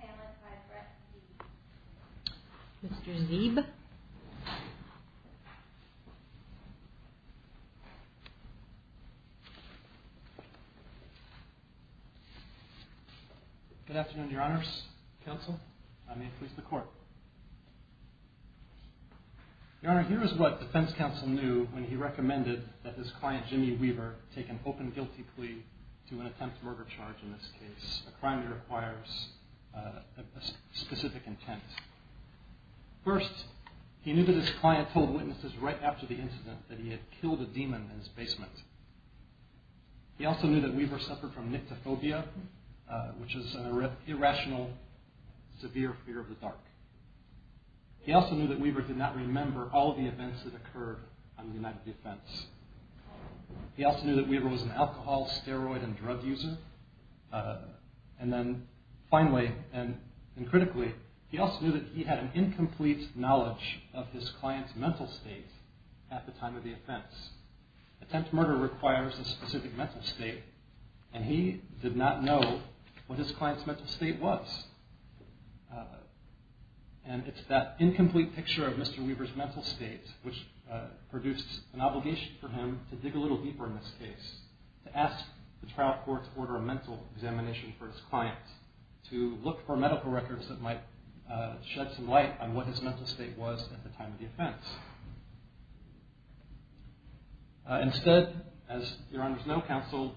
panelist by Brett Zeeb. Mr. Zeeb. Good afternoon, your honors, counsel. I'm here for the court. Your honor, here is what defense counsel knew when he recommended that his client, Jimmy Weaver, take an open guilty plea to an attempt murder charge in this case, a crime that requires a specific intent. First, he knew that his client told witnesses right after the incident that he had killed a demon in his basement. He also knew that Weaver suffered from nyctophobia, which is an irrational, severe fear of the dark. He also knew that Weaver did not remember all of the events that occurred on the night of the offense. He also knew that Weaver was an alcohol, steroid, and drug user. And then finally, and critically, he also knew that he had an incomplete knowledge of his client's mental state at the time of the offense. Attempt murder requires a specific mental state, and he did not know what his client's mental state was. And it's that incomplete picture of Mr. Weaver's mental state which produced an obligation for him to dig a little deeper in this case, to ask the trial court to order a mental examination for his client, to look for medical records that might shed some light on what his mental state was at the time of the offense. Instead, as your honors know, counsel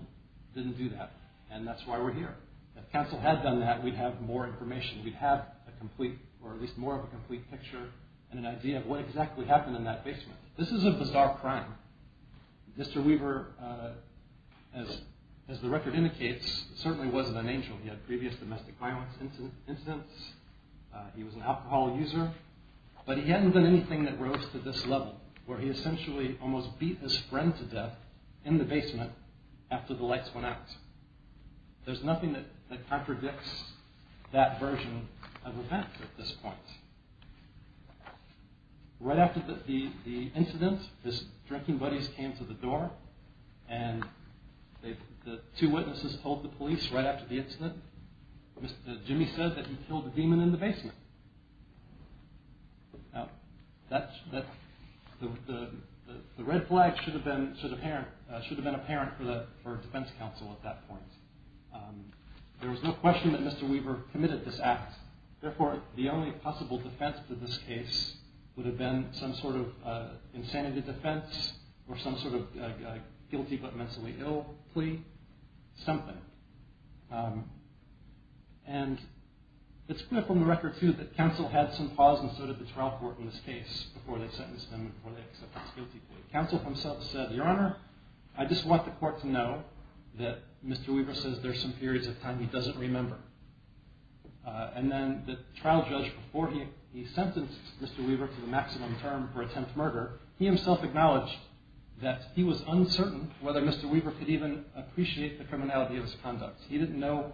didn't do that, and that's why we're here. If counsel had done that, we'd have more information. We'd have a complete, or at least more of a complete picture and an idea of what exactly happened in that basement. This is a bizarre crime. Mr. Weaver, as the record indicates, certainly wasn't an angel. He had previous domestic violence incidents. He was an alcohol user. But he hadn't done anything that rose to this level, where he essentially almost beat his friend to death in the basement after the lights went out. There's nothing that contradicts that version of events at this point. Right after the incident, his drinking buddies came to the door, and the two witnesses told the police right after the incident, Jimmy said that he killed a demon in the basement. The red flag should have been apparent for defense counsel at that point. There was no question that Mr. Weaver committed this act. Therefore, the only possible defense to this case would have been some sort of insanity defense or some sort of guilty but mentally ill plea, something. It's clear from the record, too, that counsel had some pause and so did the trial court in this case before they sentenced him and before they accepted his guilty plea. Counsel himself said, your honor, I just want the court to know that Mr. Weaver says there's some periods of time he doesn't remember. And then the trial judge, before he sentenced Mr. Weaver to the maximum term for attempt murder, he himself acknowledged that he was uncertain whether Mr. Weaver could even appreciate the criminality of his conduct. He didn't know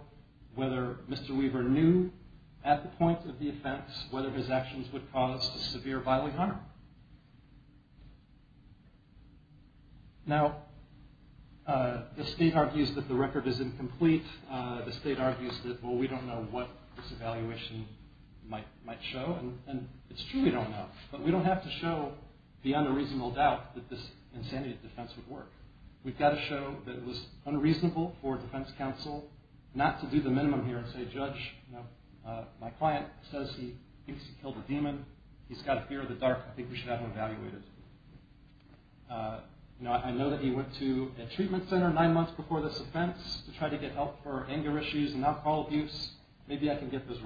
whether Mr. Weaver knew at the point of the offense whether his actions would cause severe bodily harm. Now, the state argues that the record is incomplete. The state argues that, well, we don't know what this evaluation might show. And it's true we don't know. But we don't have to show beyond a reasonable doubt that this insanity defense would work. We've got to show that it was unreasonable for defense counsel not to do the minimum here and say, judge, my client says he thinks he killed a demon. He's got a fear of the dark. I think we should have him evaluated. I know that he went to a treatment center nine months before this offense to try to get help for anger issues and alcohol abuse. Maybe I can get those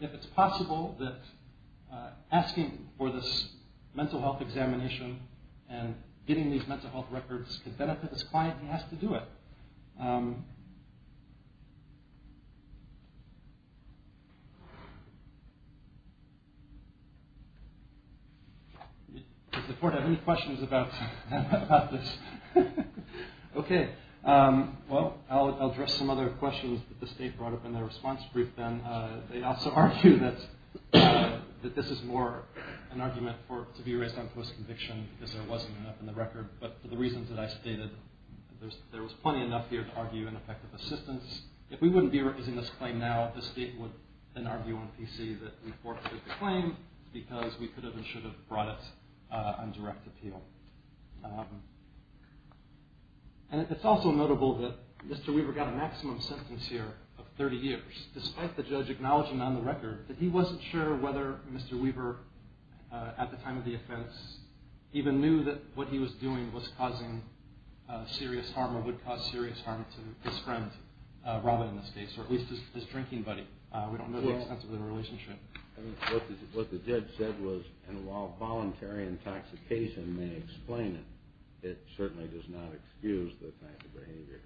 If it's possible that asking for this mental health examination and getting these mental health records could benefit this client, he has to do it. Does the court have any questions about this? Okay. Well, I'll address some other questions that the state brought up in their response brief then. They also argue that this is more an argument to be raised on post-conviction because there wasn't enough in the record. But for the reasons that I stated, there was plenty enough here to argue ineffective assistance. If we wouldn't be appeal. And it's also notable that Mr. Weaver got a maximum sentence here of 30 years, despite the judge acknowledging on the record that he wasn't sure whether Mr. Weaver, at the time of the offense, even knew that what he was doing was causing serious harm or would cause serious harm to his friend, Robin in this case, or at least his drinking buddy. We don't know the extent of their intoxication may explain it. It certainly does not excuse the type of behavior.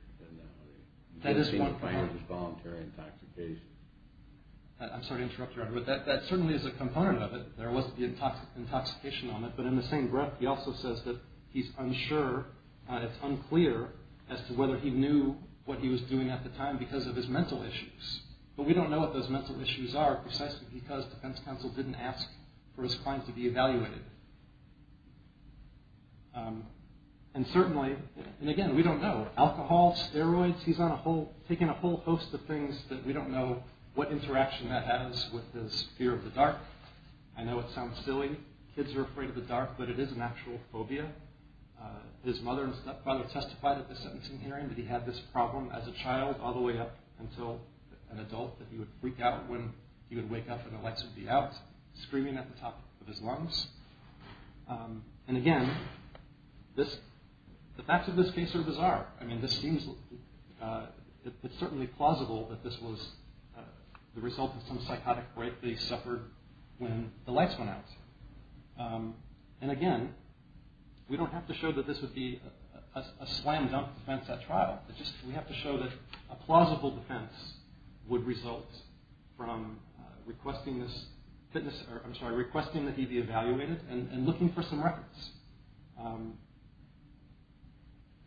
I'm sorry to interrupt you, Your Honor, but that certainly is a component of it. There was the intoxication on it, but in the same breath, he also says that he's unsure, it's unclear as to whether he knew what he was doing at the time because of his mental issues. But we don't know what those mental issues are precisely because defense counsel didn't ask for his crime to be evaluated. And certainly, and again, we don't know. Alcohol, steroids, he's taken a whole host of things that we don't know what interaction that has with his fear of the dark. I know it sounds silly. Kids are afraid of the dark, but it is an actual phobia. His mother and stepfather testified at the sentencing hearing that he had this problem as a child all the way up until an adult that he would freak out when he would wake up and the lights would be out, screaming at the top of his lungs. And again, the facts of this case are bizarre. I mean, it's certainly plausible that this was the result of some psychotic rape that he suffered when the lights went out. And again, we don't have to show that this would be a slam-dunk defense at trial. We have to show that a plausible defense would result from requesting that he be evaluated and looking for some records.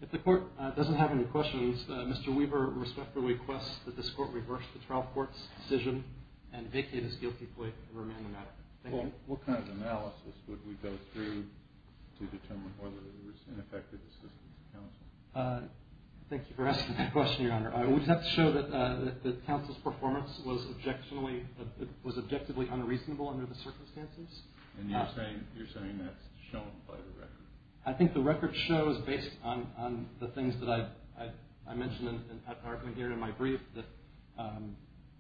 If the court doesn't have any questions, Mr. Weaver respectfully requests that this court reverse the trial court's decision and vacate his guilty plea and remain inattentive. Thank you. What kind of analysis would we go through to determine whether there was ineffective assistance from counsel? Thank you for asking that question, Your Honor. We'd have to show that counsel's performance was objectively unreasonable under the circumstances. And you're saying that's shown by the record? I think the record shows, based on the things that I mentioned in the argument here in my brief, that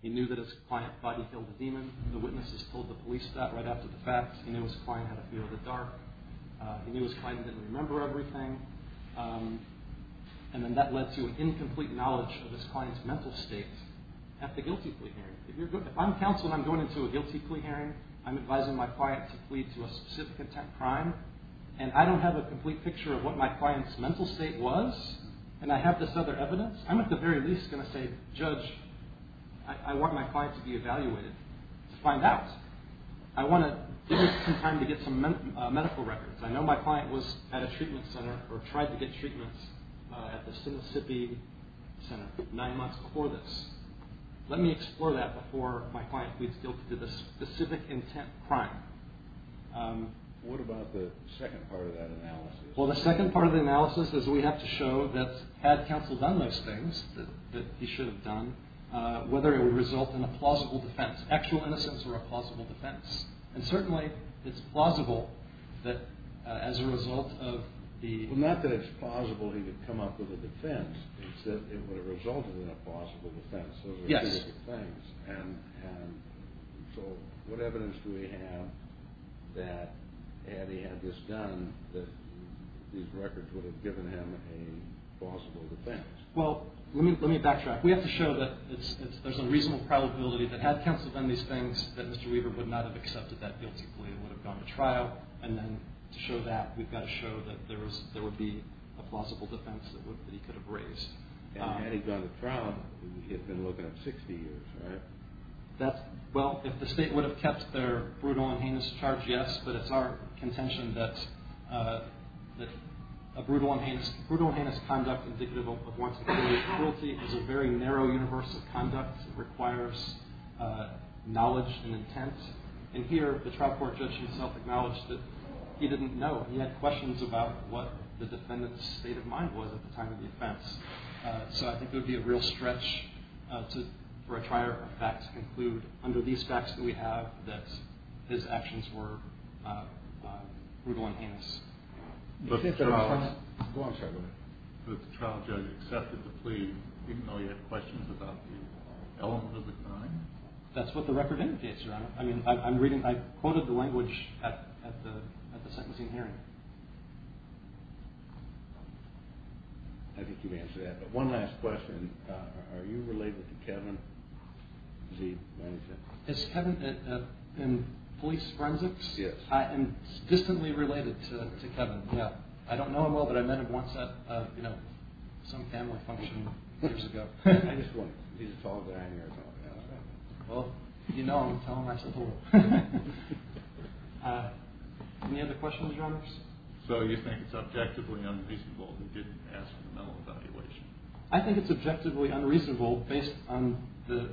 he knew that his client body-killed a demon. The witnesses told the police that right after the fact. He knew his client had a fear of the dark. He knew his client didn't remember everything. And then that led to an incomplete knowledge of his client's mental state at the guilty plea hearing. If I'm counsel and I'm going into a guilty plea hearing, I'm advising my client to plead to a specific intent crime, and I don't have a complete picture of what my client's mental state was, and I have this other evidence, I'm at the very least going to say, Judge, I want my client to be evaluated to find out. I want to give you some time to get some medical records. I know my client was at a treatment center or tried to get treatments at the Mississippi Center nine months before this. Let me explore that before my client pleads guilty to the specific intent crime. What about the second part of that analysis? Well, the second part of the analysis is we have to show that had counsel done those things that he should have done, whether it would result in a plausible defense, actual innocence or a plausible defense. And certainly it's plausible that as a result of the… these records would have given him a plausible defense. Well, let me backtrack. We have to show that there's a reasonable probability that had counsel done these things that Mr. Weaver would not have accepted that guilty plea and would have gone to trial, and then to show that, we've got to show that there would be a plausible defense that he could have raised. And had he gone to trial, he had been looking up 60 years, right? Well, if the state would have kept their brutal and heinous charge, yes, but it's our contention that a brutal and heinous conduct indicative of wanting to commit a cruelty is a very narrow universe of conduct. It requires knowledge and intent. And here, the trial court judge himself acknowledged that he didn't know. He had questions about what the defendant's state of mind was at the time of the offense. So I think it would be a real stretch for a trial to conclude under these facts that we have that his actions were brutal and heinous. Was the trial judge accepted the plea even though he had questions about the element of the crime? That's what the record indicates, Your Honor. I mean, I'm reading, I quoted the language at the sentencing hearing. I think you answered that, but one last question. Are you related to Kevin Z. Is Kevin in police forensics? Yes. I am distantly related to Kevin. I don't know him well, but I met him once at, you know, some family function years ago. Well, you know him, tell him I said hello. Any other questions, Your Honors? So you think it's objectively unreasonable he didn't ask for the mental evaluation? I think it's objectively unreasonable based on the,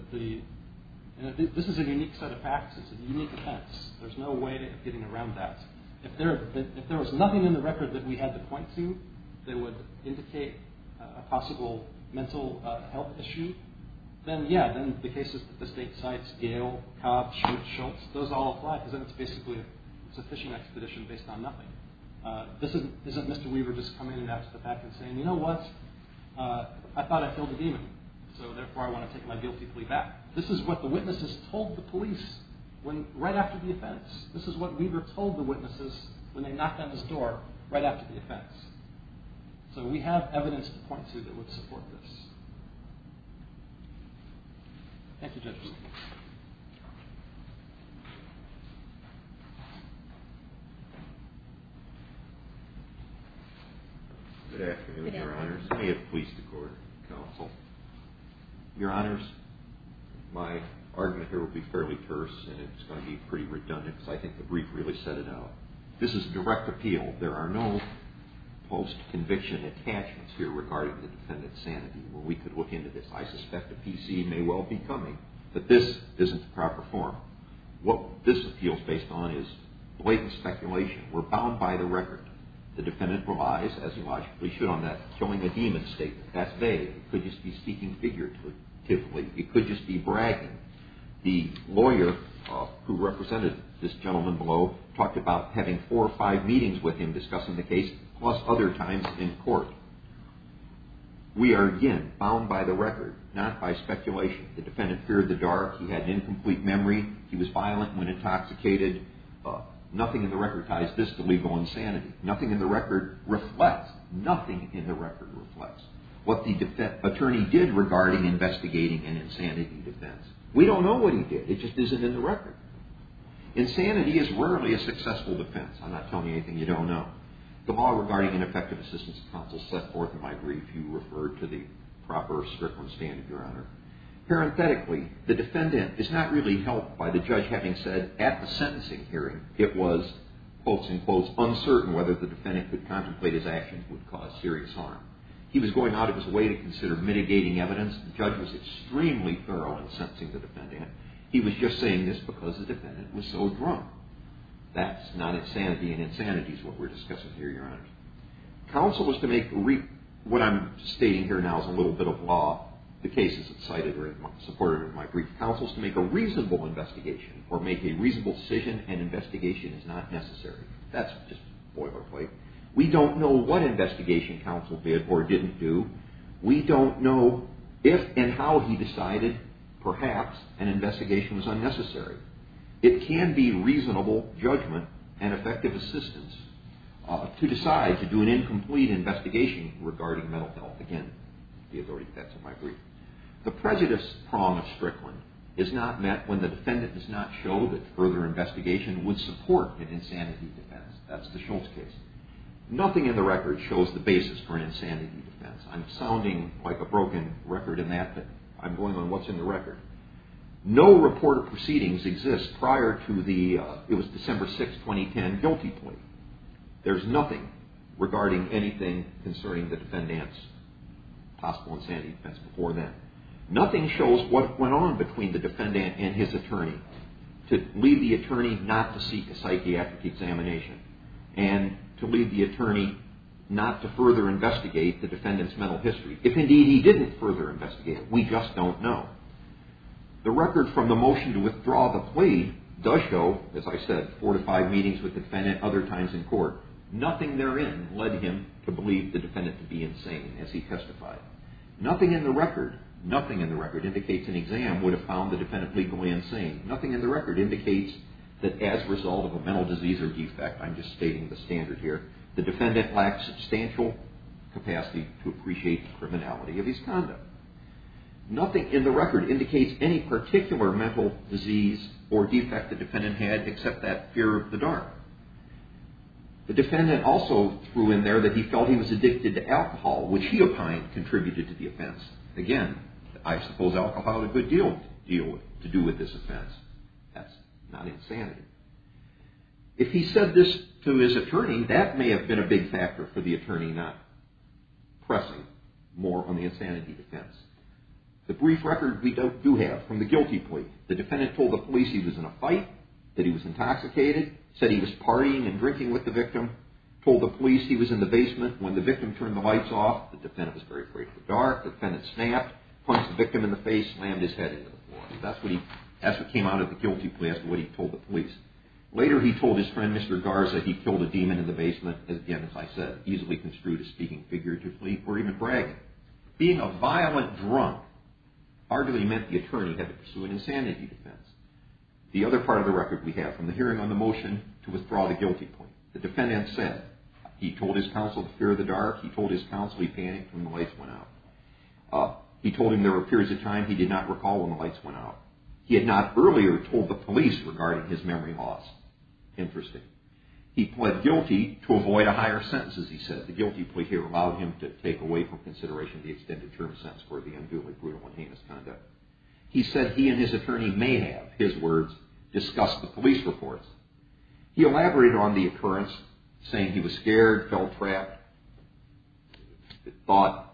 this is a unique set of facts. It's a unique offense. There's no way of getting around that. If there was nothing in the record that we had to point to that would indicate a possible mental health issue, then yeah, then the cases that the state cites, Gale, Cobb, Schultz, those all apply because then it's basically a fishing expedition based on nothing. This isn't Mr. Weaver just coming in after the fact and saying, you know what, I thought I killed a demon, so therefore I want to take my guilty plea back. This is what the witnesses told the police right after the offense. This is what Weaver told the witnesses when they knocked on his door right after the offense. So we have evidence to point to that would support this. Thank you, Judges. Good afternoon, Your Honors. May it please the Court, Counsel. Your Honors, my argument here will be fairly terse and it's going to be pretty redundant because I think the brief really set it out. This is a direct appeal. There are no post-conviction attachments here regarding the defendant's sanity where we could look into this. I suspect a PC may well be coming, but this isn't the proper form. What this appeal is based on is blatant speculation. We're bound by the record. The defendant relies, as he logically should, on that killing a demon statement. That's vague. It could just be speaking figuratively. It could just be bragging. The lawyer who represented this gentleman below talked about having four or five meetings with him discussing the case, plus other times in court. We are, again, bound by the record, not by speculation. The defendant feared the dark. He had incomplete memory. He was violent when intoxicated. Nothing in the record ties this to legal insanity. Nothing in the record reflects what the attorney did regarding investigating an insanity defense. We don't know what he did. It just isn't in the record. Insanity is rarely a successful defense. I'm not telling you anything you don't know. The law regarding ineffective assistance of counsel set forth in my brief. You referred to the proper, strict one standard, Your Honor. Parenthetically, the defendant is not really helped by the judge having said at the sentencing hearing it was, quote, unquote, uncertain whether the defendant could contemplate his actions would cause serious harm. He was going out of his way to consider mitigating evidence. The judge was extremely thorough in sentencing the defendant. He was just saying this because the defendant was so drunk. That's not insanity, and insanity is what we're discussing here, Your Honor. What I'm stating here now is a little bit of law. The case is cited or supported in my brief. Counsel is to make a reasonable investigation or make a reasonable decision, and investigation is not necessary. That's just boilerplate. We don't know what investigation counsel did or didn't do. We don't know if and how he decided. Perhaps an investigation was unnecessary. It can be reasonable judgment and effective assistance to decide to do an incomplete investigation regarding mental health. Again, the authority of that's in my brief. The prejudice prong of strict one is not met when the defendant does not show that further investigation would support an insanity defense. That's the Schultz case. Nothing in the record shows the basis for an insanity defense. I'm sounding like a broken record in that, but I'm going on what's in the record. No reported proceedings exist prior to the, it was December 6, 2010, guilty plea. There's nothing regarding anything concerning the defendant's possible insanity defense before then. Nothing shows what went on between the defendant and his attorney to leave the attorney not to seek a psychiatric examination and to leave the attorney not to further investigate the defendant's mental history. If indeed he didn't further investigate, we just don't know. The record from the motion to withdraw the plea does show, as I said, four to five meetings with the defendant, other times in court. Nothing therein led him to believe the defendant to be insane as he testified. Nothing in the record, nothing in the record indicates an exam would have found the defendant legally insane. Nothing in the record indicates that as a result of a mental disease or defect, I'm just stating the standard here, the defendant lacked substantial capacity to appreciate the criminality of his conduct. Nothing in the record indicates any particular mental disease or defect the defendant had except that fear of the dark. The defendant also threw in there that he felt he was addicted to alcohol, which he opined contributed to the offense. Again, I suppose alcohol had a good deal to do with this offense. That's not insanity. If he said this to his attorney, that may have been a big factor for the attorney not pressing more on the insanity defense. The brief record we do have from the guilty plea, the defendant told the police he was in a fight, that he was intoxicated, said he was partying and drinking with the victim, told the police he was in the basement. When the victim turned the lights off, the defendant was very afraid of the dark. The defendant snapped, punched the victim in the face, slammed his head into the floor. That's what came out of the guilty plea as to what he told the police. Later, he told his friend, Mr. Garza, he killed a demon in the basement. Again, as I said, easily construed as speaking figuratively or even bragging. Being a violent drunk arguably meant the attorney had to pursue an insanity defense. The other part of the record we have from the hearing on the motion to withdraw the guilty plea. The defendant said he told his counsel to fear the dark. He told his counsel he panicked when the lights went out. He told him there were periods of time he did not recall when the lights went out. He had not earlier told the police regarding his memory loss. Interesting. He pled guilty to avoid a higher sentence, as he said. The guilty plea here allowed him to take away from consideration the extended term sentence for the unduly brutal and heinous conduct. He said he and his attorney may have, his words, discussed the police reports. He elaborated on the occurrence, saying he was scared, felt trapped, thought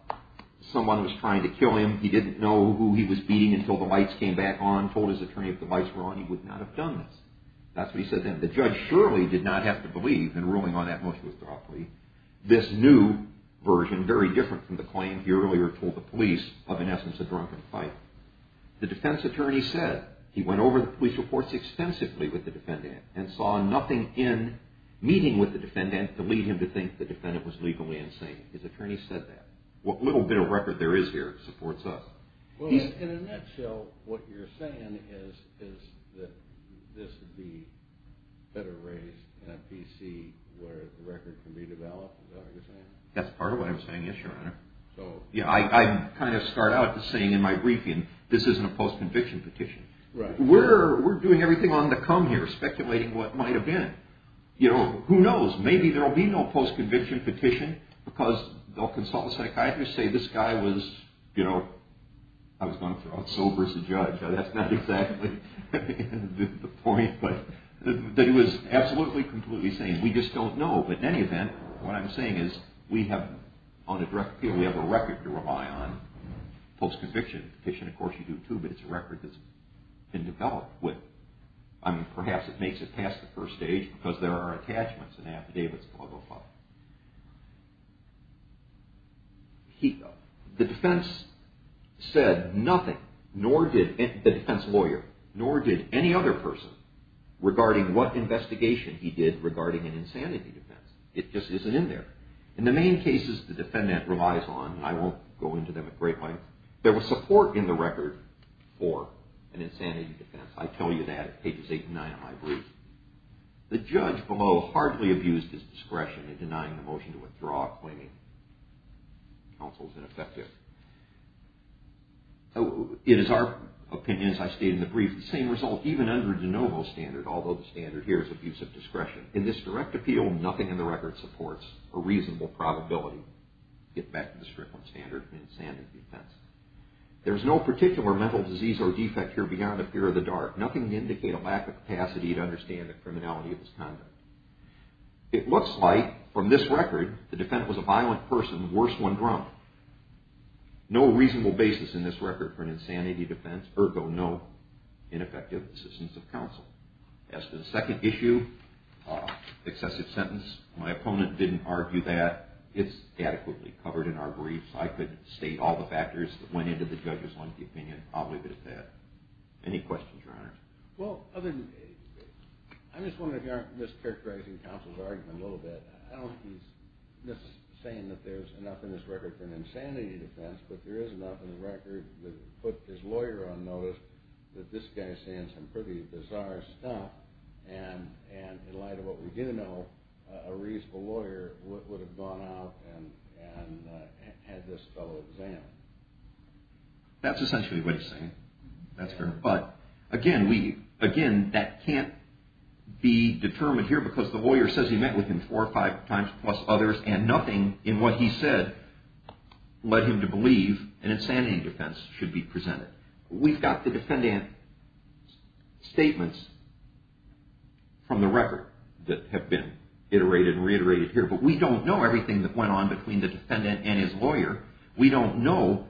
someone was trying to kill him. He didn't know who he was beating until the lights came back on, told his attorney if the lights were on, he would not have done this. That's what he said then. The judge surely did not have to believe in ruling on that motion withdrawal plea. This new version, very different from the claim he earlier told the police of, in essence, a drunken fight. The defense attorney said he went over the police reports extensively with the defendant and saw nothing in meeting with the defendant to lead him to think the defendant was legally insane. His attorney said that. What little bit of record there is here supports us. Well, in a nutshell, what you're saying is that this would be better raised in a PC where the record can be developed? Is that what you're saying? That's part of what I'm saying, yes, Your Honor. I kind of start out saying in my briefing, this isn't a post-conviction petition. We're doing everything on the come here, speculating what might have been. Who knows? Maybe there will be no post-conviction petition because they'll consult the psychiatrist, say this guy was sober as a judge. That's not exactly the point, but he was absolutely, completely sane. We just don't know, but in any event, what I'm saying is we have a record to rely on. Post-conviction petition, of course, you do too, but it's a record that's been developed. Perhaps it makes it past the first stage because there are attachments in Affidavits 105. The defense lawyer nor did any other person regarding what investigation he did regarding an insanity defense. It just isn't in there. In the main cases the defendant relies on, and I won't go into them at great length, there was support in the record for an insanity defense. I tell you that at pages 8 and 9 of my brief. The judge below hardly abused his discretion in denying the motion to withdraw, claiming counsel is ineffective. It is our opinion, as I stated in the brief, the same result even under De Novo's standard, although the standard here is abuse of discretion. In this direct appeal, nothing in the record supports a reasonable probability. Get back to the Strickland standard for an insanity defense. There's no particular mental disease or defect here beyond the fear of the dark. Nothing to indicate a lack of capacity to understand the criminality of this conduct. It looks like from this record the defendant was a violent person, worse when drunk. No reasonable basis in this record for an insanity defense, ergo no ineffective assistance of counsel. As to the second issue, excessive sentence, my opponent didn't argue that. It's adequately covered in our briefs. I could state all the factors that went into the judge's lengthy opinion. I'll leave it at that. Any questions, Your Honor? Well, I'm just wondering if you aren't mischaracterizing counsel's argument a little bit. I don't think he's saying that there's enough in this record for an insanity defense, but there is enough in the record that would put his lawyer on notice that this guy's saying some pretty bizarre stuff, and in light of what we do know, a reasonable lawyer would have gone out and had this fellow examined. That's essentially what he's saying. That's correct. But, again, that can't be determined here because the lawyer says he met with him four or five times plus others, and nothing in what he said led him to believe an insanity defense should be presented. We've got the defendant's statements from the record that have been iterated and reiterated here, but we don't know everything that went on between the defendant and his lawyer. We don't know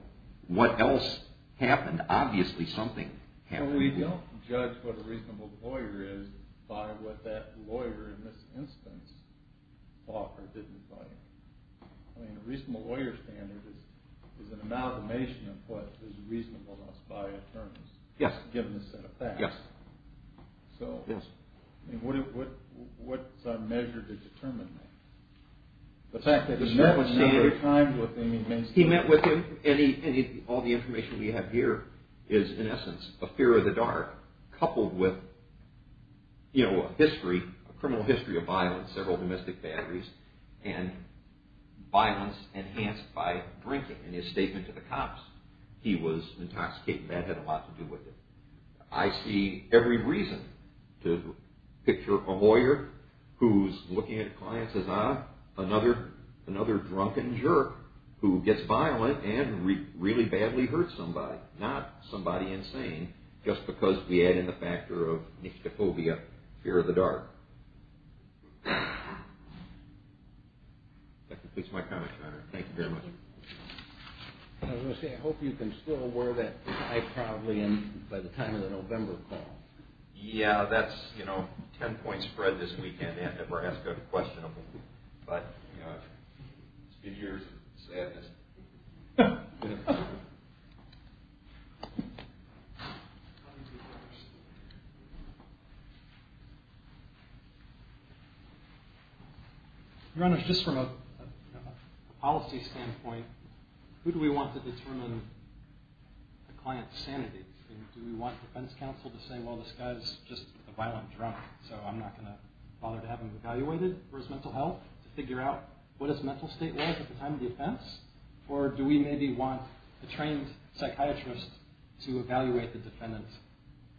what else happened. Obviously, something happened. We don't judge what a reasonable lawyer is by what that lawyer, in this instance, thought or did in his life. A reasonable lawyer's standard is an amalgamation of what is reasonableness by attorneys, given the set of facts. Yes. So, what's a measure to determine that? The fact that he met with him a number of times with him means he met with him. He met with him. All the information we have here is, in essence, a fear of the dark, coupled with a criminal history of violence, several domestic batteries, and violence enhanced by drinking. In his statement to the cops, he was intoxicated, and that had a lot to do with it. I see every reason to picture a lawyer who's looking at clients as, ah, another drunken jerk who gets violent and really badly hurts somebody, not somebody insane just because we add in the factor of nyctophobia, fear of the dark. That completes my comment, Your Honor. Thank you very much. I was going to say, I hope you can still wear that tie proudly by the time of the November call. Yeah, that's, you know, ten points spread this weekend. I never ask a question of him. But, you know, it's because of your sadness. Your Honor, just from a policy standpoint, who do we want to determine the client's sanity? Do we want defense counsel to say, well, this guy's just a violent drunk, so I'm not going to bother to have him evaluated for his mental health, to figure out what his mental state was at the time of the offense? Or do we maybe want a trained psychiatrist to evaluate the defendant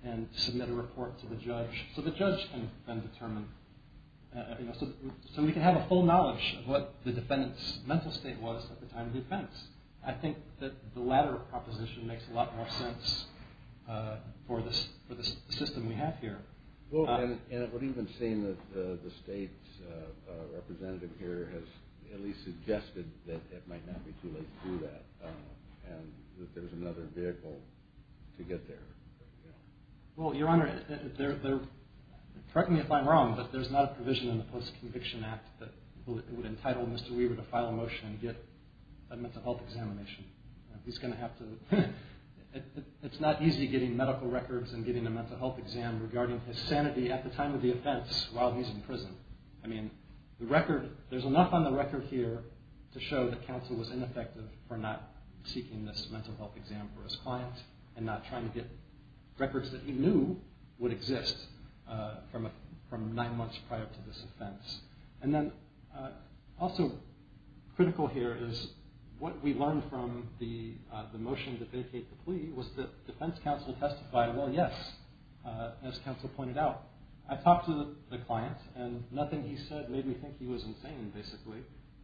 and submit a report to the judge so the judge can then determine, you know, so we can have a full knowledge of what the defendant's mental state was at the time of the offense? I think that the latter proposition makes a lot more sense for the system we have here. Well, and it would even seem that the State's representative here has at least suggested that it might not be too late to do that, and that there's another vehicle to get there. Well, Your Honor, correct me if I'm wrong, but there's not a provision in the Post-Conviction Act that would entitle Mr. Weaver to file a motion and get a mental health examination. He's going to have to, it's not easy getting medical records and getting a mental health exam regarding his sanity at the time of the offense while he's in prison. I mean, the record, there's enough on the record here to show that counsel was ineffective for not seeking this mental health exam for his client and not trying to get records that he knew would exist from nine months prior to this offense. And then also critical here is what we learned from the motion to vacate the plea was that defense counsel testified, well, yes, as counsel pointed out. I talked to the client, and nothing he said made me think he was insane, basically.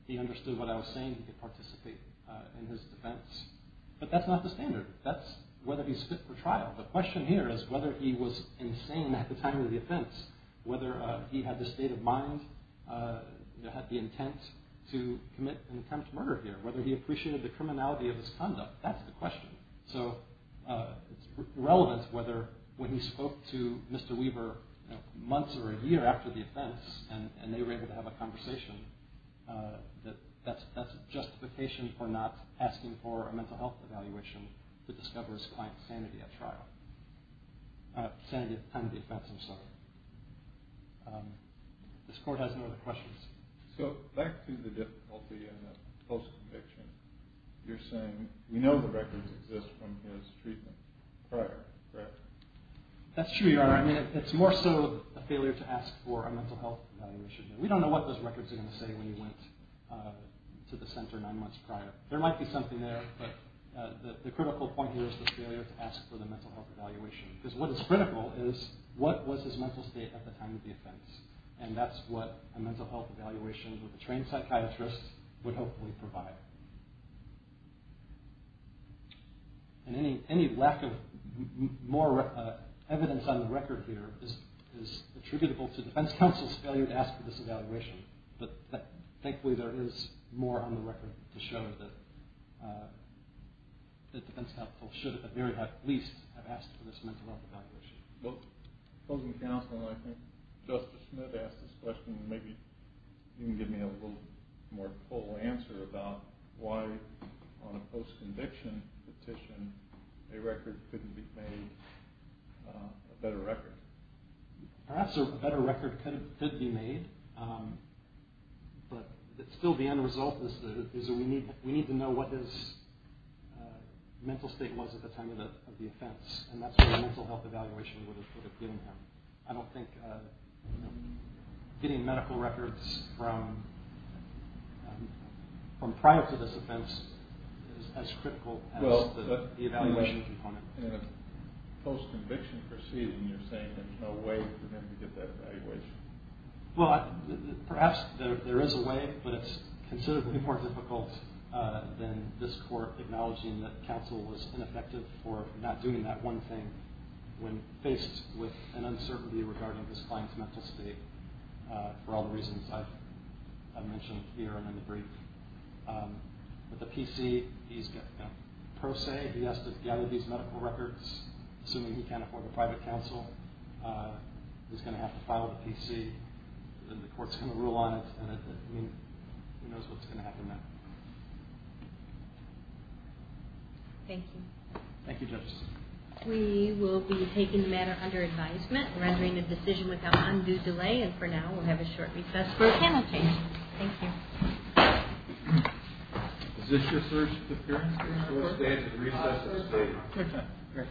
He understood what I was saying. He could participate in his defense. But that's not the standard. That's whether he's fit for trial. The question here is whether he was insane at the time of the offense, whether he had the state of mind that had the intent to commit an attempt to murder here, whether he appreciated the criminality of his conduct. That's the question. So it's relevant whether when he spoke to Mr. Weaver months or a year after the offense and they were able to have a conversation, that that's justification for not asking for a mental health evaluation to discover his client's sanity at the time of the offense himself. This court has no other questions. So back to the difficulty in the post-conviction, you're saying we know the records exist from his treatment prior, correct? That's true, Your Honor. I mean, it's more so a failure to ask for a mental health evaluation. We don't know what those records are going to say when you went to the center nine months prior. There might be something there, but the critical point here is the failure to ask for the mental health evaluation because what is critical is what was his mental state at the time of the offense, and that's what a mental health evaluation with a trained psychiatrist would hopefully provide. And any lack of more evidence on the record here is attributable to defense counsel's failure to ask for this evaluation, but thankfully there is more on the record to show that defense counsel should at the very least have asked for this mental health evaluation. Both opposing counsel and I think Justice Smith asked this question, and maybe you can give me a little more full answer about why on a post-conviction petition a record couldn't be made, a better record. Perhaps a better record could be made, but still the end result is that we need to know what his mental state was at the time of the offense, and that's what a mental health evaluation would have given him. I don't think getting medical records from prior to this offense is as critical as the evaluation component. In a post-conviction proceeding, you're saying there's no way for them to get that evaluation. Well, perhaps there is a way, but it's considerably more difficult than this court acknowledging that counsel was ineffective for not doing that one thing when faced with an uncertainty regarding his client's mental state for all the reasons I've mentioned here and in the brief. With the PC, he's got pro se, he has to gather these medical records, assuming he can't afford a private counsel, he's going to have to file a PC, and the court's going to rule on it, and who knows what's going to happen next. Thank you. Thank you, Justice. We will be taking the matter under advisement, rendering a decision without undue delay, and for now we'll have a short recess for panel changes. Thank you. Is this your first appearance? First day of the recess. Okay, great.